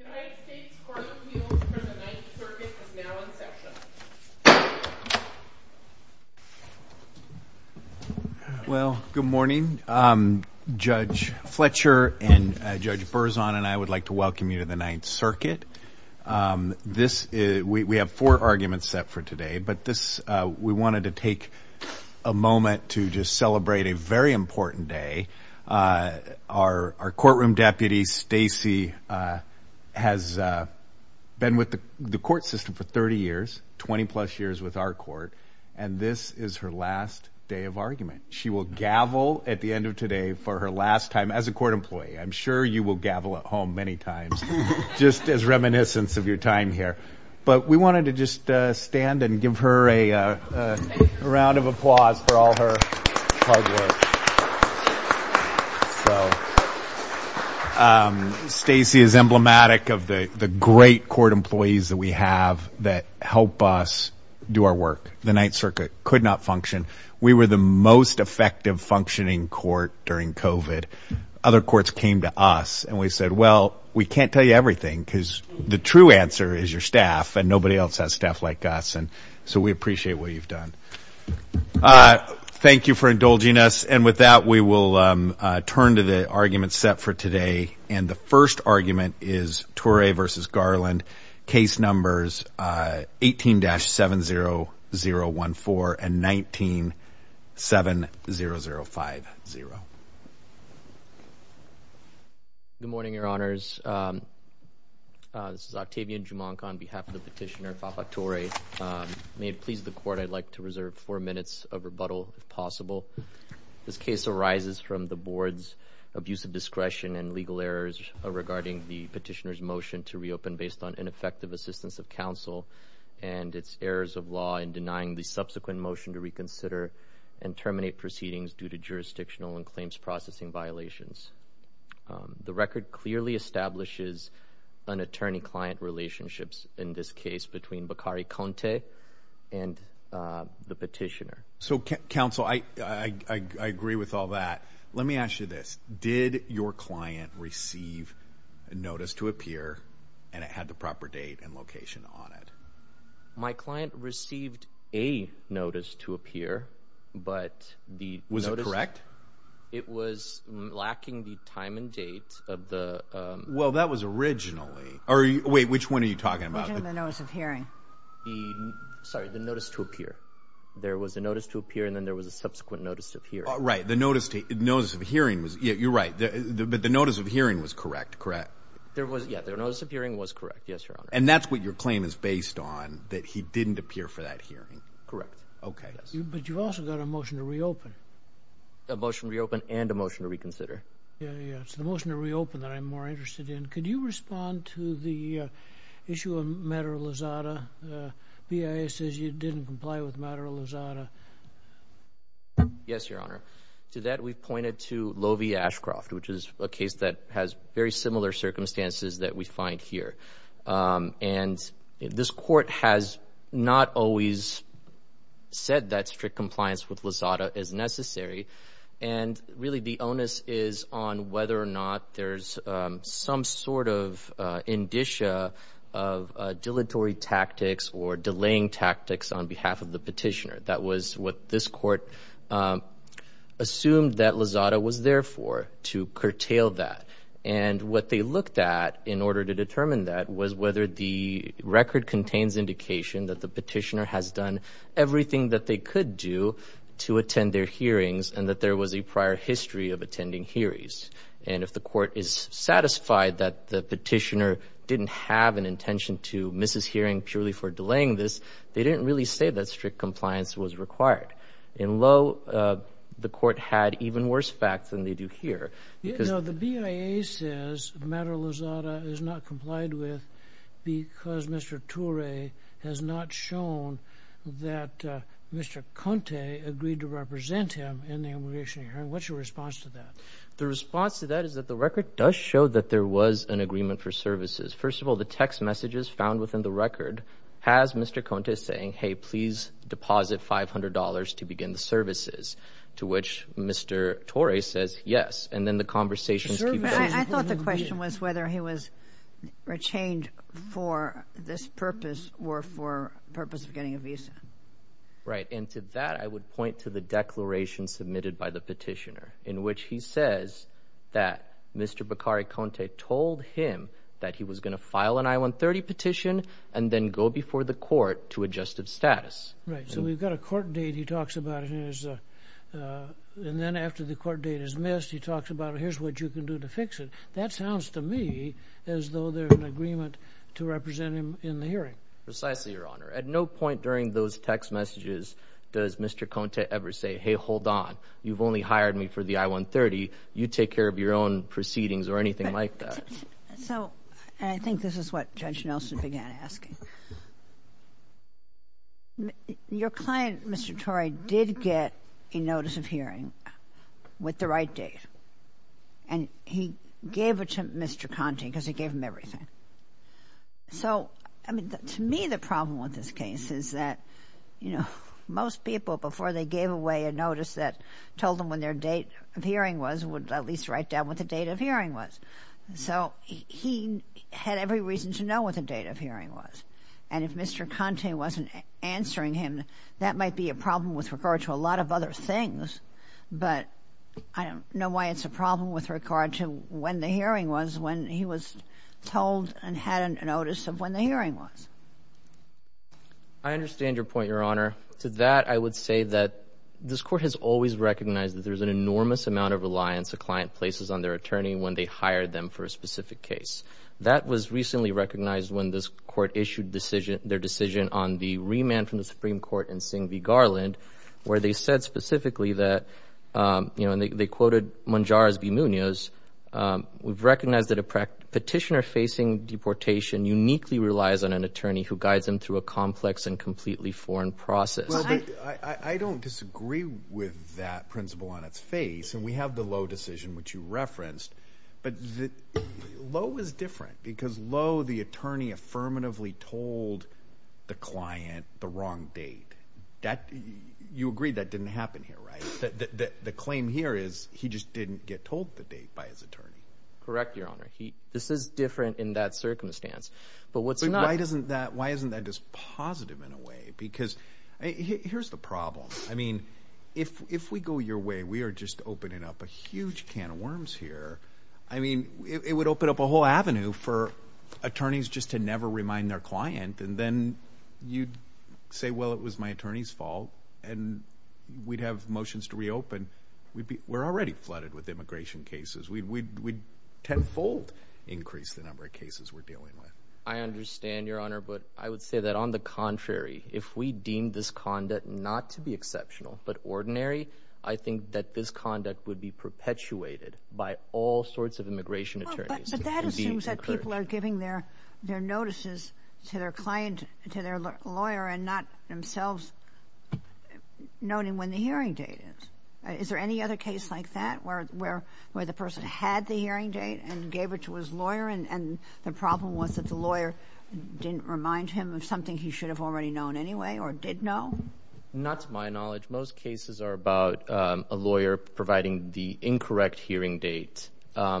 The United States Court of Appeals for the Ninth Circuit is now in session. Well, good morning. Judge Fletcher and Judge Berzon and I would like to welcome you to the Ninth Circuit. We have four arguments set for today, but we wanted to take a moment to just celebrate a very important day. Our courtroom deputy, Stacy, has been with the court system for 30 years, 20-plus years with our court, and this is her last day of argument. She will gavel at the end of today for her last time as a court employee. I'm sure you will gavel at home many times just as reminiscence of your time here. But we wanted to just stand and give her a round of applause for all her hard work. Stacy is emblematic of the great court employees that we have that help us do our work. The Ninth Circuit could not function. We were the most effective functioning court during COVID. Other courts came to us, and we said, well, we can't tell you everything because the true answer is your staff, and nobody else has staff like us, and so we appreciate what you've done. Thank you for indulging us. And with that, we will turn to the arguments set for today. And the first argument is Torrey v. Garland. Case numbers 18-70014 and 19-70050. Good morning, Your Honors. This is Octavian Jumonk on behalf of the petitioner, Fafa Torrey. May it please the court, I'd like to reserve four minutes of rebuttal if possible. This case arises from the board's abusive discretion and legal errors regarding the petitioner's motion to reopen based on ineffective assistance of counsel and its errors of law in denying the subsequent motion to reconsider and terminate proceedings due to jurisdictional and claims processing violations. The record clearly establishes an attorney-client relationships in this case between Bakari Conte and the petitioner. So, counsel, I agree with all that. Let me ask you this. Did your client receive a notice to appear, and it had the proper date and location on it? My client received a notice to appear, but the notice— It was lacking the time and date of the— Well, that was originally—or wait, which one are you talking about? The notice of hearing. Sorry, the notice to appear. There was a notice to appear, and then there was a subsequent notice to appear. Right, the notice of hearing was—you're right, but the notice of hearing was correct, correct? Yeah, the notice of hearing was correct, yes, Your Honor. And that's what your claim is based on, that he didn't appear for that hearing? Correct. Okay. But you've also got a motion to reopen. A motion to reopen and a motion to reconsider. Yeah, yeah, it's the motion to reopen that I'm more interested in. Could you respond to the issue of matter of Lozada? BIA says you didn't comply with matter of Lozada. Yes, Your Honor. To that, we've pointed to Lovi Ashcroft, which is a case that has very similar circumstances that we find here. And this court has not always said that strict compliance with Lozada is necessary. And really, the onus is on whether or not there's some sort of indicia of dilatory tactics or delaying tactics on behalf of the petitioner. That was what this court assumed that Lozada was there for, to curtail that. And what they looked at in order to determine that was whether the record contains indication that the petitioner has done everything that they could do to attend their hearings, and that there was a prior history of attending hearings. And if the court is satisfied that the petitioner didn't have an intention to miss his hearing purely for delaying this, they didn't really say that strict compliance was required. In Lo, the court had even worse facts than they do here. The BIA says matter of Lozada is not complied with because Mr. Torre has not shown that Mr. Conte agreed to represent him in the immigration hearing. What's your response to that? The response to that is that the record does show that there was an agreement for services. First of all, the text messages found within the record has Mr. Conte saying, hey, please deposit $500 to begin the services, to which Mr. Torre says yes. And then the conversations keep going. I thought the question was whether he was retained for this purpose or for the purpose of getting a visa. Right. And to that I would point to the declaration submitted by the petitioner in which he says that Mr. Beccari Conte told him that he was going to file an I-130 petition and then go before the court to adjust its status. Right. So we've got a court date he talks about, and then after the court date is missed, he talks about here's what you can do to fix it. That sounds to me as though there's an agreement to represent him in the hearing. Precisely, Your Honor. At no point during those text messages does Mr. Conte ever say, hey, hold on. You've only hired me for the I-130. You take care of your own proceedings or anything like that. So I think this is what Judge Nelson began asking. Your client, Mr. Torre, did get a notice of hearing with the right date, and he gave it to Mr. Conte because he gave him everything. So, I mean, to me the problem with this case is that, you know, most people before they gave away a notice that told them when their date of hearing was would at least write down what the date of hearing was. So he had every reason to know what the date of hearing was. And if Mr. Conte wasn't answering him, that might be a problem with regard to a lot of other things. But I don't know why it's a problem with regard to when the hearing was when he was told and had a notice of when the hearing was. I understand your point, Your Honor. To that, I would say that this Court has always recognized that there's an enormous amount of reliance a client places on their attorney when they hire them for a specific case. That was recently recognized when this Court issued their decision on the remand from the Supreme Court in Singh v. Garland, where they said specifically that, you know, and they quoted Monjarez v. Munoz, we've recognized that a petitioner facing deportation uniquely relies on an attorney who guides them through a complex and completely foreign process. I don't disagree with that principle on its face. And we have the Lowe decision, which you referenced. But Lowe is different because Lowe, the attorney, affirmatively told the client the wrong date. You agree that didn't happen here, right? The claim here is he just didn't get told the date by his attorney. Correct, Your Honor. This is different in that circumstance. But why isn't that just positive in a way? Because here's the problem. I mean, if we go your way, we are just opening up a huge can of worms here. I mean, it would open up a whole avenue for attorneys just to never remind their client. And then you'd say, well, it was my attorney's fault, and we'd have motions to reopen. We're already flooded with immigration cases. We'd tenfold increase the number of cases we're dealing with. I understand, Your Honor, but I would say that, on the contrary, if we deemed this conduct not to be exceptional but ordinary, I think that this conduct would be perpetuated by all sorts of immigration attorneys. But that assumes that people are giving their notices to their client, to their lawyer, and not themselves noting when the hearing date is. Is there any other case like that where the person had the hearing date and gave it to his lawyer, and the problem was that the lawyer didn't remind him of something he should have already known anyway or did know? Not to my knowledge. Most cases are about a lawyer providing the incorrect hearing date. I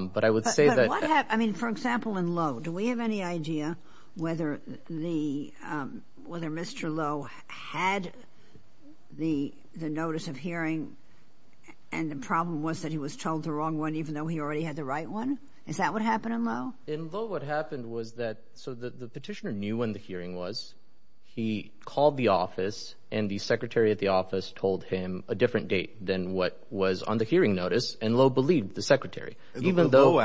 mean, for example, in Lowe, do we have any idea whether Mr. Lowe had the notice of hearing and the problem was that he was told the wrong one even though he already had the right one? Is that what happened in Lowe? In Lowe, what happened was that the petitioner knew when the hearing was. He called the office, and the secretary at the office told him a different date than what was on the hearing notice, and Lowe believed the secretary. Lowe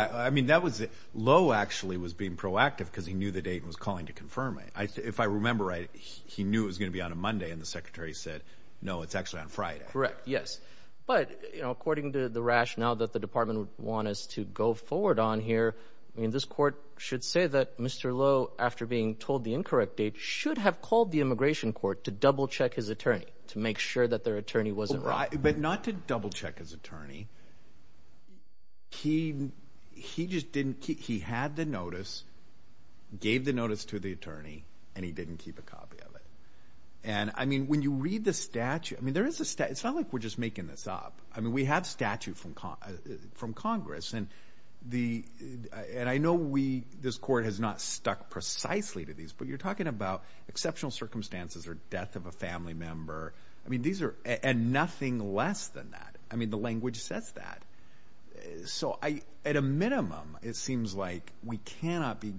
actually was being proactive because he knew the date and was calling to confirm it. If I remember right, he knew it was going to be on a Monday, and the secretary said, no, it's actually on Friday. Correct, yes. But according to the rationale that the department would want us to go forward on here, this court should say that Mr. Lowe, after being told the incorrect date, should have called the immigration court to double-check his attorney to make sure that their attorney wasn't wrong. But not to double-check his attorney. He had the notice, gave the notice to the attorney, and he didn't keep a copy of it. When you read the statute, it's not like we're just making this up. We have statute from Congress, and I know this court has not stuck precisely to these, but you're talking about exceptional circumstances or death of a family member. I mean, these are – and nothing less than that. I mean, the language says that. So at a minimum, it seems like we cannot be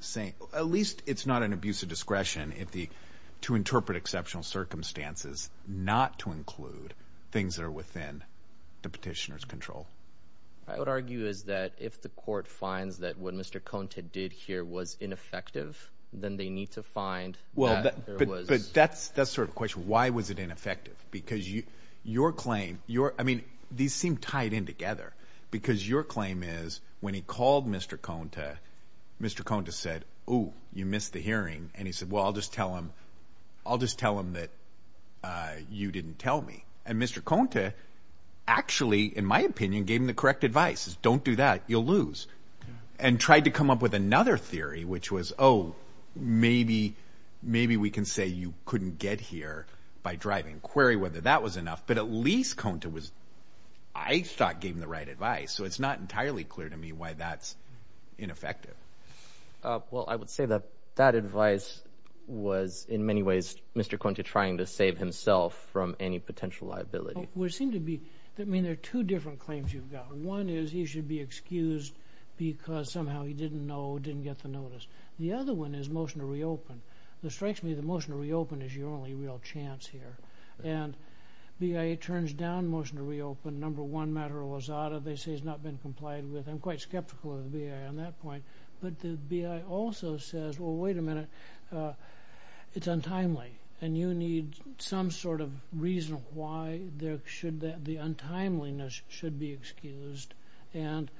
saying – at least it's not an abuse of discretion to interpret exceptional circumstances not to include things that are within the petitioner's control. What I would argue is that if the court finds that what Mr. Conte did here was ineffective, then they need to find that there was – But that's sort of the question. Why was it ineffective? Because your claim – I mean, these seem tied in together, because your claim is when he called Mr. Conte, Mr. Conte said, ooh, you missed the hearing, and he said, well, I'll just tell him that you didn't tell me. And Mr. Conte actually, in my opinion, gave him the correct advice. Don't do that. You'll lose. And tried to come up with another theory, which was, oh, maybe we can say you couldn't get here by driving, query whether that was enough. But at least Conte was – I thought gave him the right advice. So it's not entirely clear to me why that's ineffective. Well, I would say that that advice was, in many ways, Mr. Conte trying to save himself from any potential liability. Well, there seem to be – I mean, there are two different claims you've got. One is he should be excused because somehow he didn't know, didn't get the notice. The other one is motion to reopen. It strikes me the motion to reopen is your only real chance here. And BIA turns down motion to reopen. Number one, Matter of Lazada, they say he's not been complied with. I'm quite skeptical of the BIA on that point. But the BIA also says, well, wait a minute, it's untimely, and you need some sort of reason why the untimeliness should be excused. And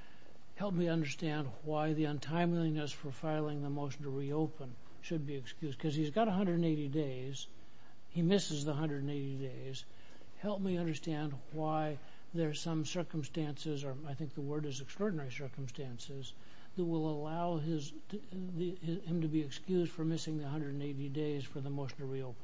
help me understand why the untimeliness for filing the motion to reopen should be excused. Because he's got 180 days. He misses the 180 days. Help me understand why there are some circumstances, or I think the word is extraordinary circumstances, that will allow him to be excused for missing the 180 days for the motion to reopen.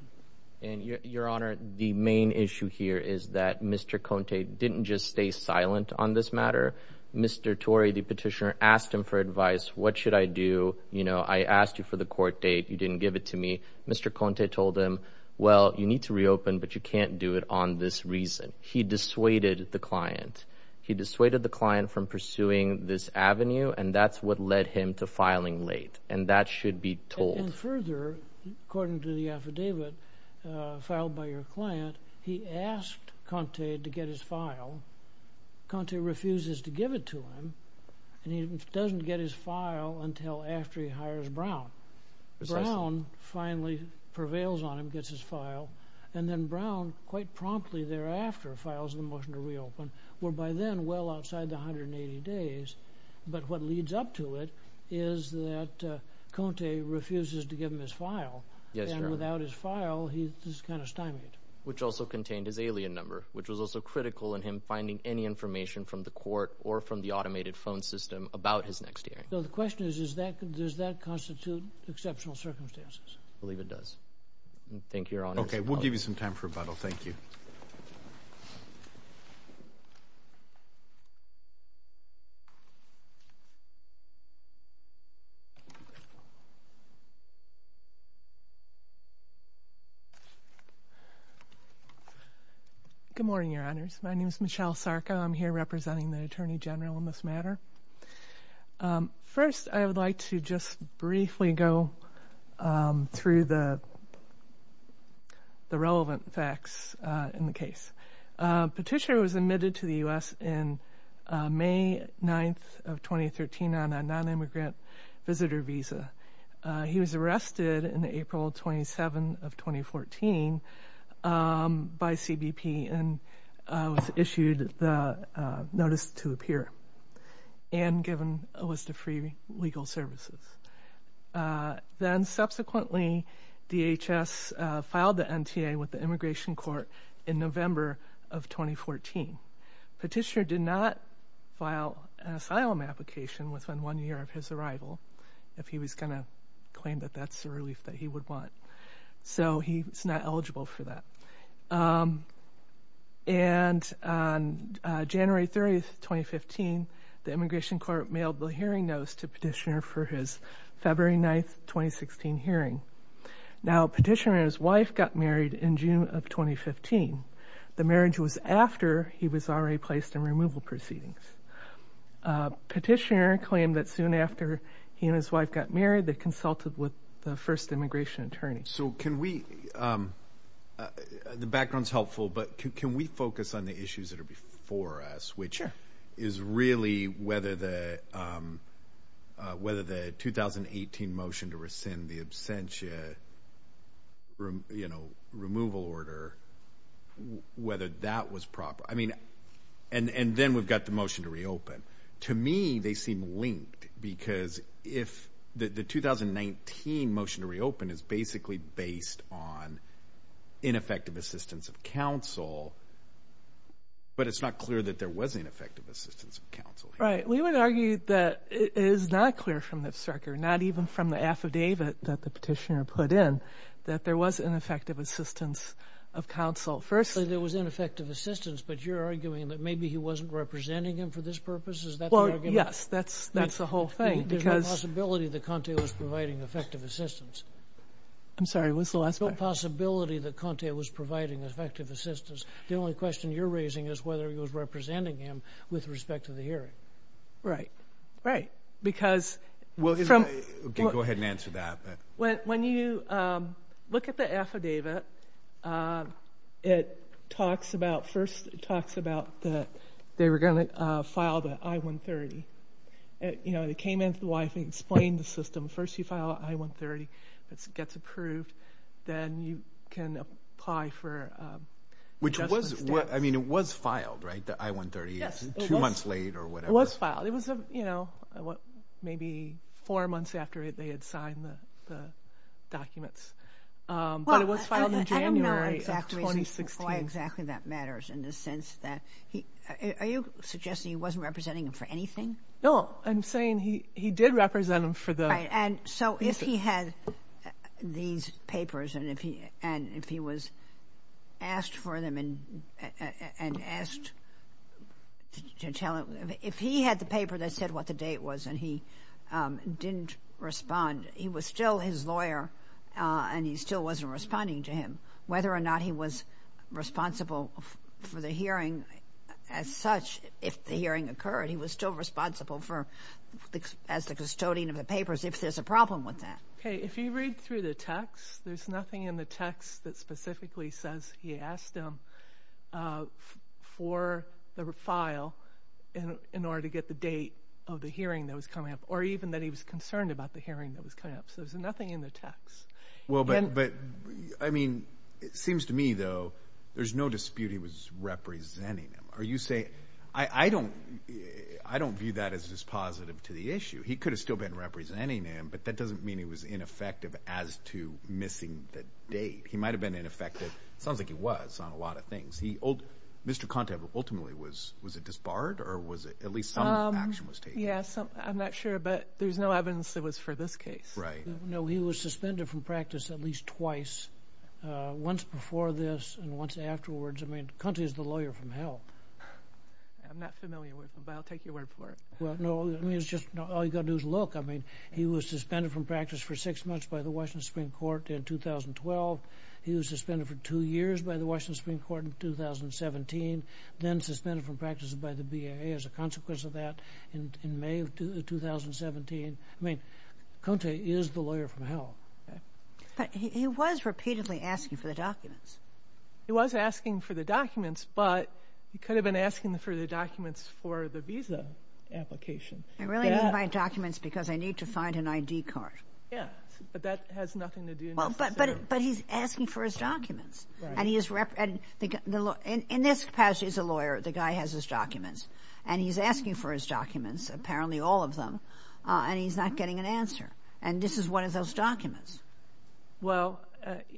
And, Your Honor, the main issue here is that Mr. Conte didn't just stay silent on this matter. Mr. Torrey, the petitioner, asked him for advice. What should I do? You know, I asked you for the court date. You didn't give it to me. Mr. Conte told him, well, you need to reopen, but you can't do it on this reason. He dissuaded the client. He dissuaded the client from pursuing this avenue, and that's what led him to filing late. And that should be told. And further, according to the affidavit filed by your client, he asked Conte to get his file. Conte refuses to give it to him, and he doesn't get his file until after he hires Brown. Brown finally prevails on him, gets his file, and then Brown quite promptly thereafter files the motion to reopen, whereby then well outside the 180 days, but what leads up to it is that Conte refuses to give him his file. And without his file, he's kind of stymied. Which also contained his alien number, which was also critical in him finding any information from the court or from the automated phone system about his next hearing. So the question is, does that constitute exceptional circumstances? I believe it does. Thank you, Your Honors. Okay, we'll give you some time for rebuttal. Thank you. Good morning, Your Honors. My name is Michelle Sarko. I'm here representing the Attorney General in this matter. First, I would like to just briefly go through the relevant facts in the case. Petitio was admitted to the U.S. in May 9th of 2013 on a nonimmigrant visitor visa. He was arrested in April 27th of 2014 by CBP and was issued the notice to appear. And given a list of free legal services. Then subsequently, DHS filed the NTA with the Immigration Court in November of 2014. Petitio did not file an asylum application within one year of his arrival, if he was going to claim that that's the relief that he would want. So he's not eligible for that. And January 30th, 2015, the Immigration Court mailed the hearing notice to Petitio for his February 9th, 2016 hearing. Now, Petitio and his wife got married in June of 2015. The marriage was after he was already placed in removal proceedings. Petitio claimed that soon after he and his wife got married, they consulted with the first immigration attorney. So can we, the background's helpful, but can we focus on the issues that are before us, which is really whether the 2018 motion to rescind the absentia, you know, removal order, whether that was proper. I mean, and then we've got the motion to reopen. To me, they seem linked, because if the 2019 motion to reopen is basically based on ineffective assistance of counsel, but it's not clear that there was ineffective assistance of counsel. Right. We would argue that it is not clear from this record, not even from the affidavit that the petitioner put in, that there was ineffective assistance of counsel. Firstly, there was ineffective assistance, but you're arguing that maybe he wasn't representing him for this purpose? Is that the argument? Well, yes, that's the whole thing. There's no possibility that Conte was providing effective assistance. I'm sorry, what's the last part? There's no possibility that Conte was providing effective assistance. The only question you're raising is whether he was representing him with respect to the hearing. Right, right. Because from— Go ahead and answer that. When you look at the affidavit, it talks about— first it talks about that they were going to file the I-130. You know, they came in to the wife and explained the system. First you file an I-130 that gets approved. Then you can apply for— Which was—I mean, it was filed, right, the I-130? Yes. Two months late or whatever? It was filed. It was, you know, maybe four months after they had signed the documents. But it was filed in January of 2016. I don't know why exactly that matters in the sense that— are you suggesting he wasn't representing him for anything? No, I'm saying he did represent him for the— Right, and so if he had these papers and if he was asked for them and asked to tell— if he had the paper that said what the date was and he didn't respond, he was still his lawyer and he still wasn't responding to him. Whether or not he was responsible for the hearing as such, if the hearing occurred, he was still responsible as the custodian of the papers if there's a problem with that. Okay, if you read through the text, there's nothing in the text that specifically says he asked him for the file in order to get the date of the hearing that was coming up or even that he was concerned about the hearing that was coming up. So there's nothing in the text. Well, but, I mean, it seems to me, though, there's no dispute he was representing him. Are you saying—I don't view that as dispositive to the issue. He could have still been representing him, but that doesn't mean he was ineffective as to missing the date. He might have been ineffective. It sounds like he was on a lot of things. Mr. Conte, ultimately, was it disbarred or at least some action was taken? Yes, I'm not sure, but there's no evidence that it was for this case. Right. No, he was suspended from practice at least twice, once before this and once afterwards. I mean, Conte is the lawyer from hell. I'm not familiar with him, but I'll take your word for it. Well, no, I mean, it's just all you've got to do is look. I mean, he was suspended from practice for six months by the Washington Supreme Court in 2012. He was suspended for two years by the Washington Supreme Court in 2017, then suspended from practice by the BIA as a consequence of that in May of 2017. I mean, Conte is the lawyer from hell. But he was repeatedly asking for the documents. He was asking for the documents, but he could have been asking for the documents for the visa application. I really need my documents because I need to find an ID card. Yes, but that has nothing to do necessarily. But he's asking for his documents. In this capacity as a lawyer, the guy has his documents, and he's asking for his documents, apparently all of them, and he's not getting an answer. And this is one of those documents. Well,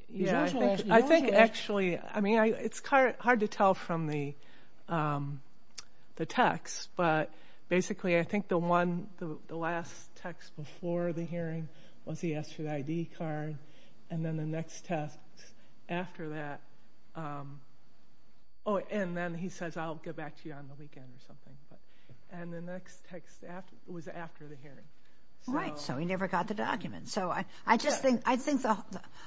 yeah, I think actually, I mean, it's hard to tell from the text, but basically I think the last text before the hearing was he asked for the ID card, and then the next text after that, oh, and then he says, I'll get back to you on the weekend or something. And the next text was after the hearing. Right, so he never got the documents. So I just think, I think the,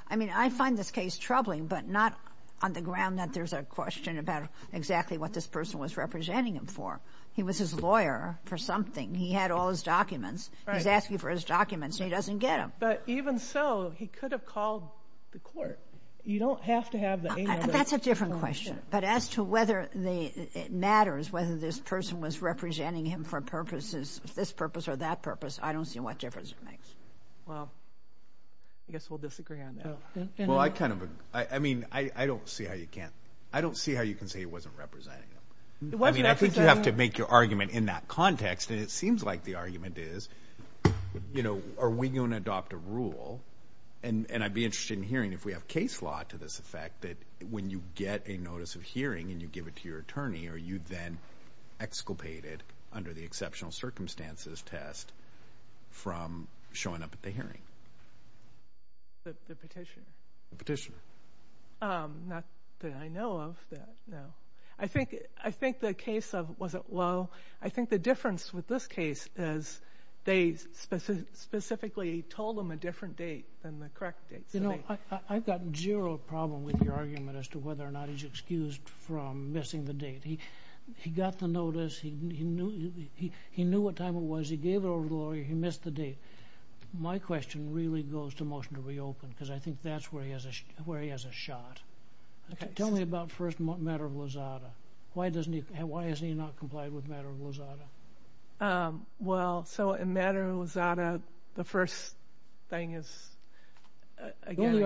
I mean, I find this case troubling, but not on the ground that there's a question about exactly what this person was representing him for. He was his lawyer for something. He had all his documents. He's asking for his documents, and he doesn't get them. But even so, he could have called the court. You don't have to have the a number. That's a different question. But as to whether it matters whether this person was representing him for purposes, this purpose or that purpose, I don't see what difference it makes. Well, I guess we'll disagree on that. Well, I kind of, I mean, I don't see how you can't, I don't see how you can say he wasn't representing him. I mean, I think you have to make your argument in that context, and it seems like the argument is, you know, are we going to adopt a rule? And I'd be interested in hearing if we have case law to this effect that when you get a notice of hearing and you give it to your attorney, are you then exculpated under the exceptional circumstances test from showing up at the hearing? The petitioner. The petitioner. Not that I know of, no. I think the case of, was it Lowe? I think the difference with this case is they specifically told him a different date than the correct date. You know, I've got zero problem with your argument as to whether or not he's excused from missing the date. He got the notice. He knew what time it was. He gave it over to the lawyer. He missed the date. My question really goes to motion to reopen because I think that's where he has a shot. Tell me about first matter of Lizada. Why has he not complied with matter of Lizada? Well, so in matter of Lizada, the first thing is, again,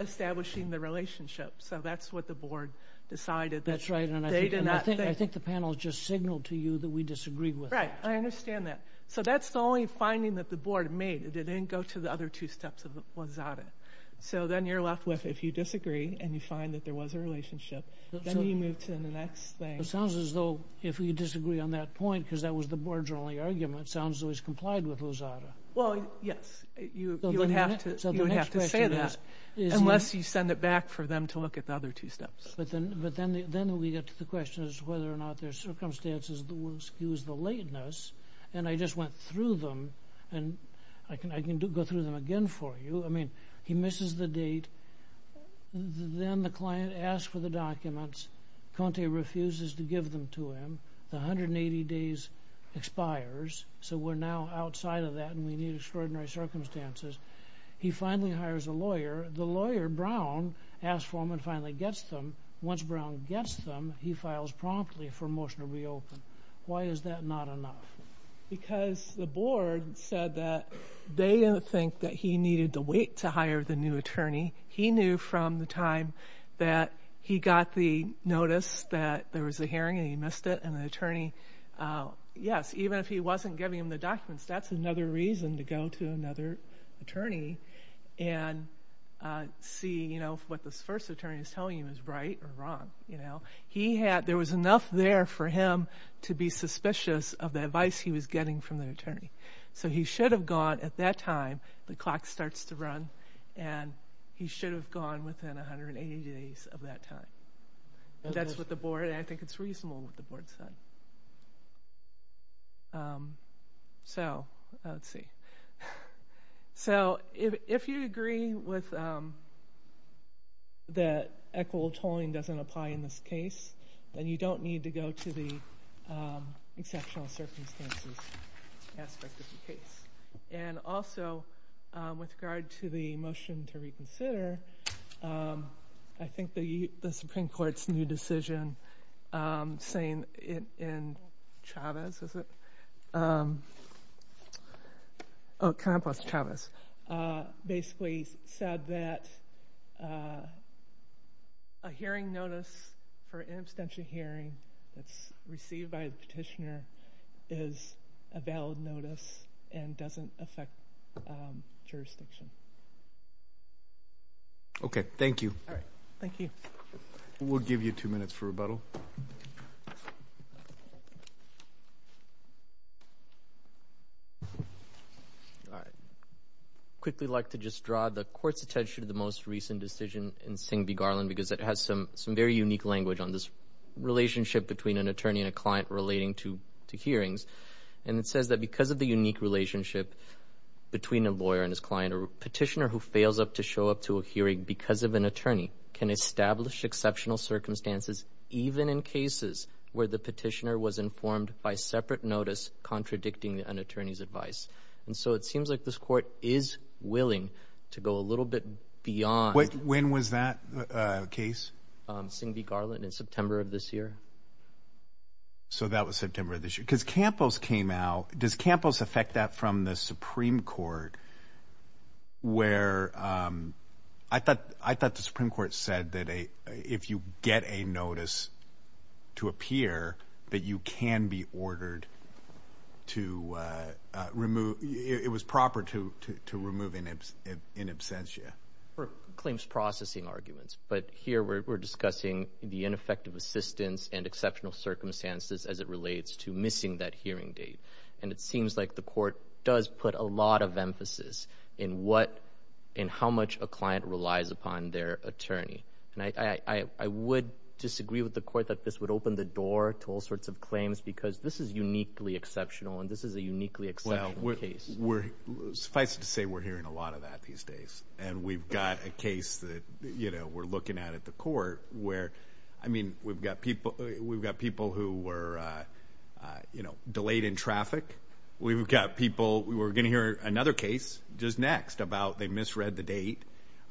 establishing the relationship. So that's what the board decided. That's right. I think the panel just signaled to you that we disagree with that. I understand that. So that's the only finding that the board made. It didn't go to the other two steps of Lizada. So then you're left with if you disagree and you find that there was a relationship, then you move to the next thing. It sounds as though if we disagree on that point because that was the board's only argument, it sounds as though he's complied with Lizada. Well, yes. You would have to say that. Unless you send it back for them to look at the other two steps. But then we get to the question of whether or not there's circumstances that will excuse the lateness. And I just went through them. And I can go through them again for you. I mean, he misses the date. Then the client asks for the documents. Conte refuses to give them to him. The 180 days expires. So we're now outside of that and we need extraordinary circumstances. He finally hires a lawyer. The lawyer, Brown, asks for them and finally gets them. Once Brown gets them, he files promptly for motion to reopen. Why is that not enough? Because the board said that they didn't think that he needed to wait to hire the new attorney. He knew from the time that he got the notice that there was a hearing and he missed it. And the attorney, yes, even if he wasn't giving him the documents, that's another reason to go to another attorney and see if what this first attorney is telling you is right or wrong. There was enough there for him to be suspicious of the advice he was getting from the attorney. So he should have gone at that time, the clock starts to run, and he should have gone within 180 days of that time. That's what the board, and I think it's reasonable what the board said. So, let's see. So if you agree that equitable tolling doesn't apply in this case, then you don't need to go to the exceptional circumstances aspect of the case. And also, with regard to the motion to reconsider, I think the Supreme Court's new decision saying it in Chavez, is it? Oh, Campos Chavez, basically said that a hearing notice for an abstention hearing that's received by the petitioner is a valid notice and doesn't affect jurisdiction. Okay, thank you. Thank you. We'll give you two minutes for rebuttal. I'd quickly like to just draw the Court's attention to the most recent decision in Singh v. Garland because it has some very unique language on this relationship between an attorney and a client relating to hearings. And it says that because of the unique relationship between a lawyer and his client, a petitioner who fails to show up to a hearing because of an attorney can establish exceptional circumstances, even in cases where the petitioner was informed by separate notice contradicting an attorney's advice. And so it seems like this Court is willing to go a little bit beyond. When was that case? Singh v. Garland in September of this year. So that was September of this year. Because Campos came out. Does Campos affect that from the Supreme Court where I thought the Supreme Court said that if you get a notice to appear, that you can be ordered to remove, it was proper to remove in absentia? For claims processing arguments. But here we're discussing the ineffective assistance and exceptional circumstances as it relates to missing that hearing date. And it seems like the Court does put a lot of emphasis in how much a client relies upon their attorney. And I would disagree with the Court that this would open the door to all sorts of claims because this is uniquely exceptional and this is a uniquely exceptional case. Well, suffice it to say we're hearing a lot of that these days. And we've got a case that, you know, we're looking at at the Court where, I mean, we've got people who were, you know, delayed in traffic. We've got people who are going to hear another case just next about they misread the date.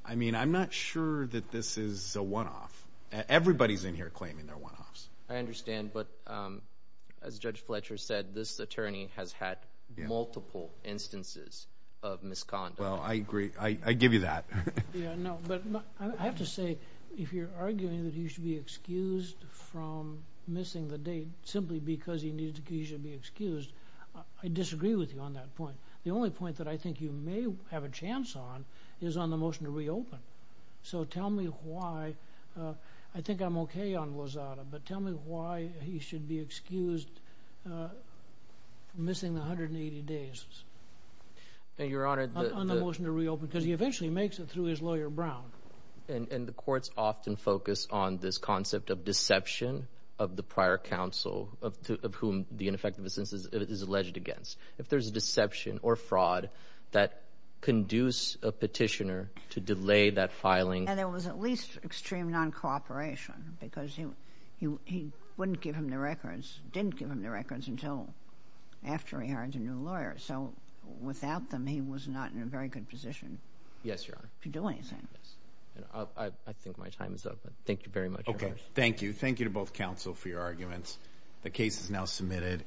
I mean, I'm not sure that this is a one-off. Everybody's in here claiming they're one-offs. I understand. But as Judge Fletcher said, this attorney has had multiple instances of misconduct. Well, I agree. I give you that. Yeah, no. But I have to say if you're arguing that he should be excused from missing the date simply because he needs to be excused, I disagree with you on that point. The only point that I think you may have a chance on is on the motion to reopen. So tell me why. I think I'm okay on Lozada. But tell me why he should be excused missing the 180 days on the motion to reopen because he eventually makes it through his lawyer, Brown. And the courts often focus on this concept of deception of the prior counsel of whom the ineffective instance is alleged against. If there's deception or fraud that conduce a petitioner to delay that filing. And there was at least extreme noncooperation because he wouldn't give him the records, didn't give him the records until after he hired a new lawyer. So without them, he was not in a very good position to do anything. I think my time is up. Thank you very much. Okay. Thank you. Thank you to both counsel for your arguments. The case is now submitted.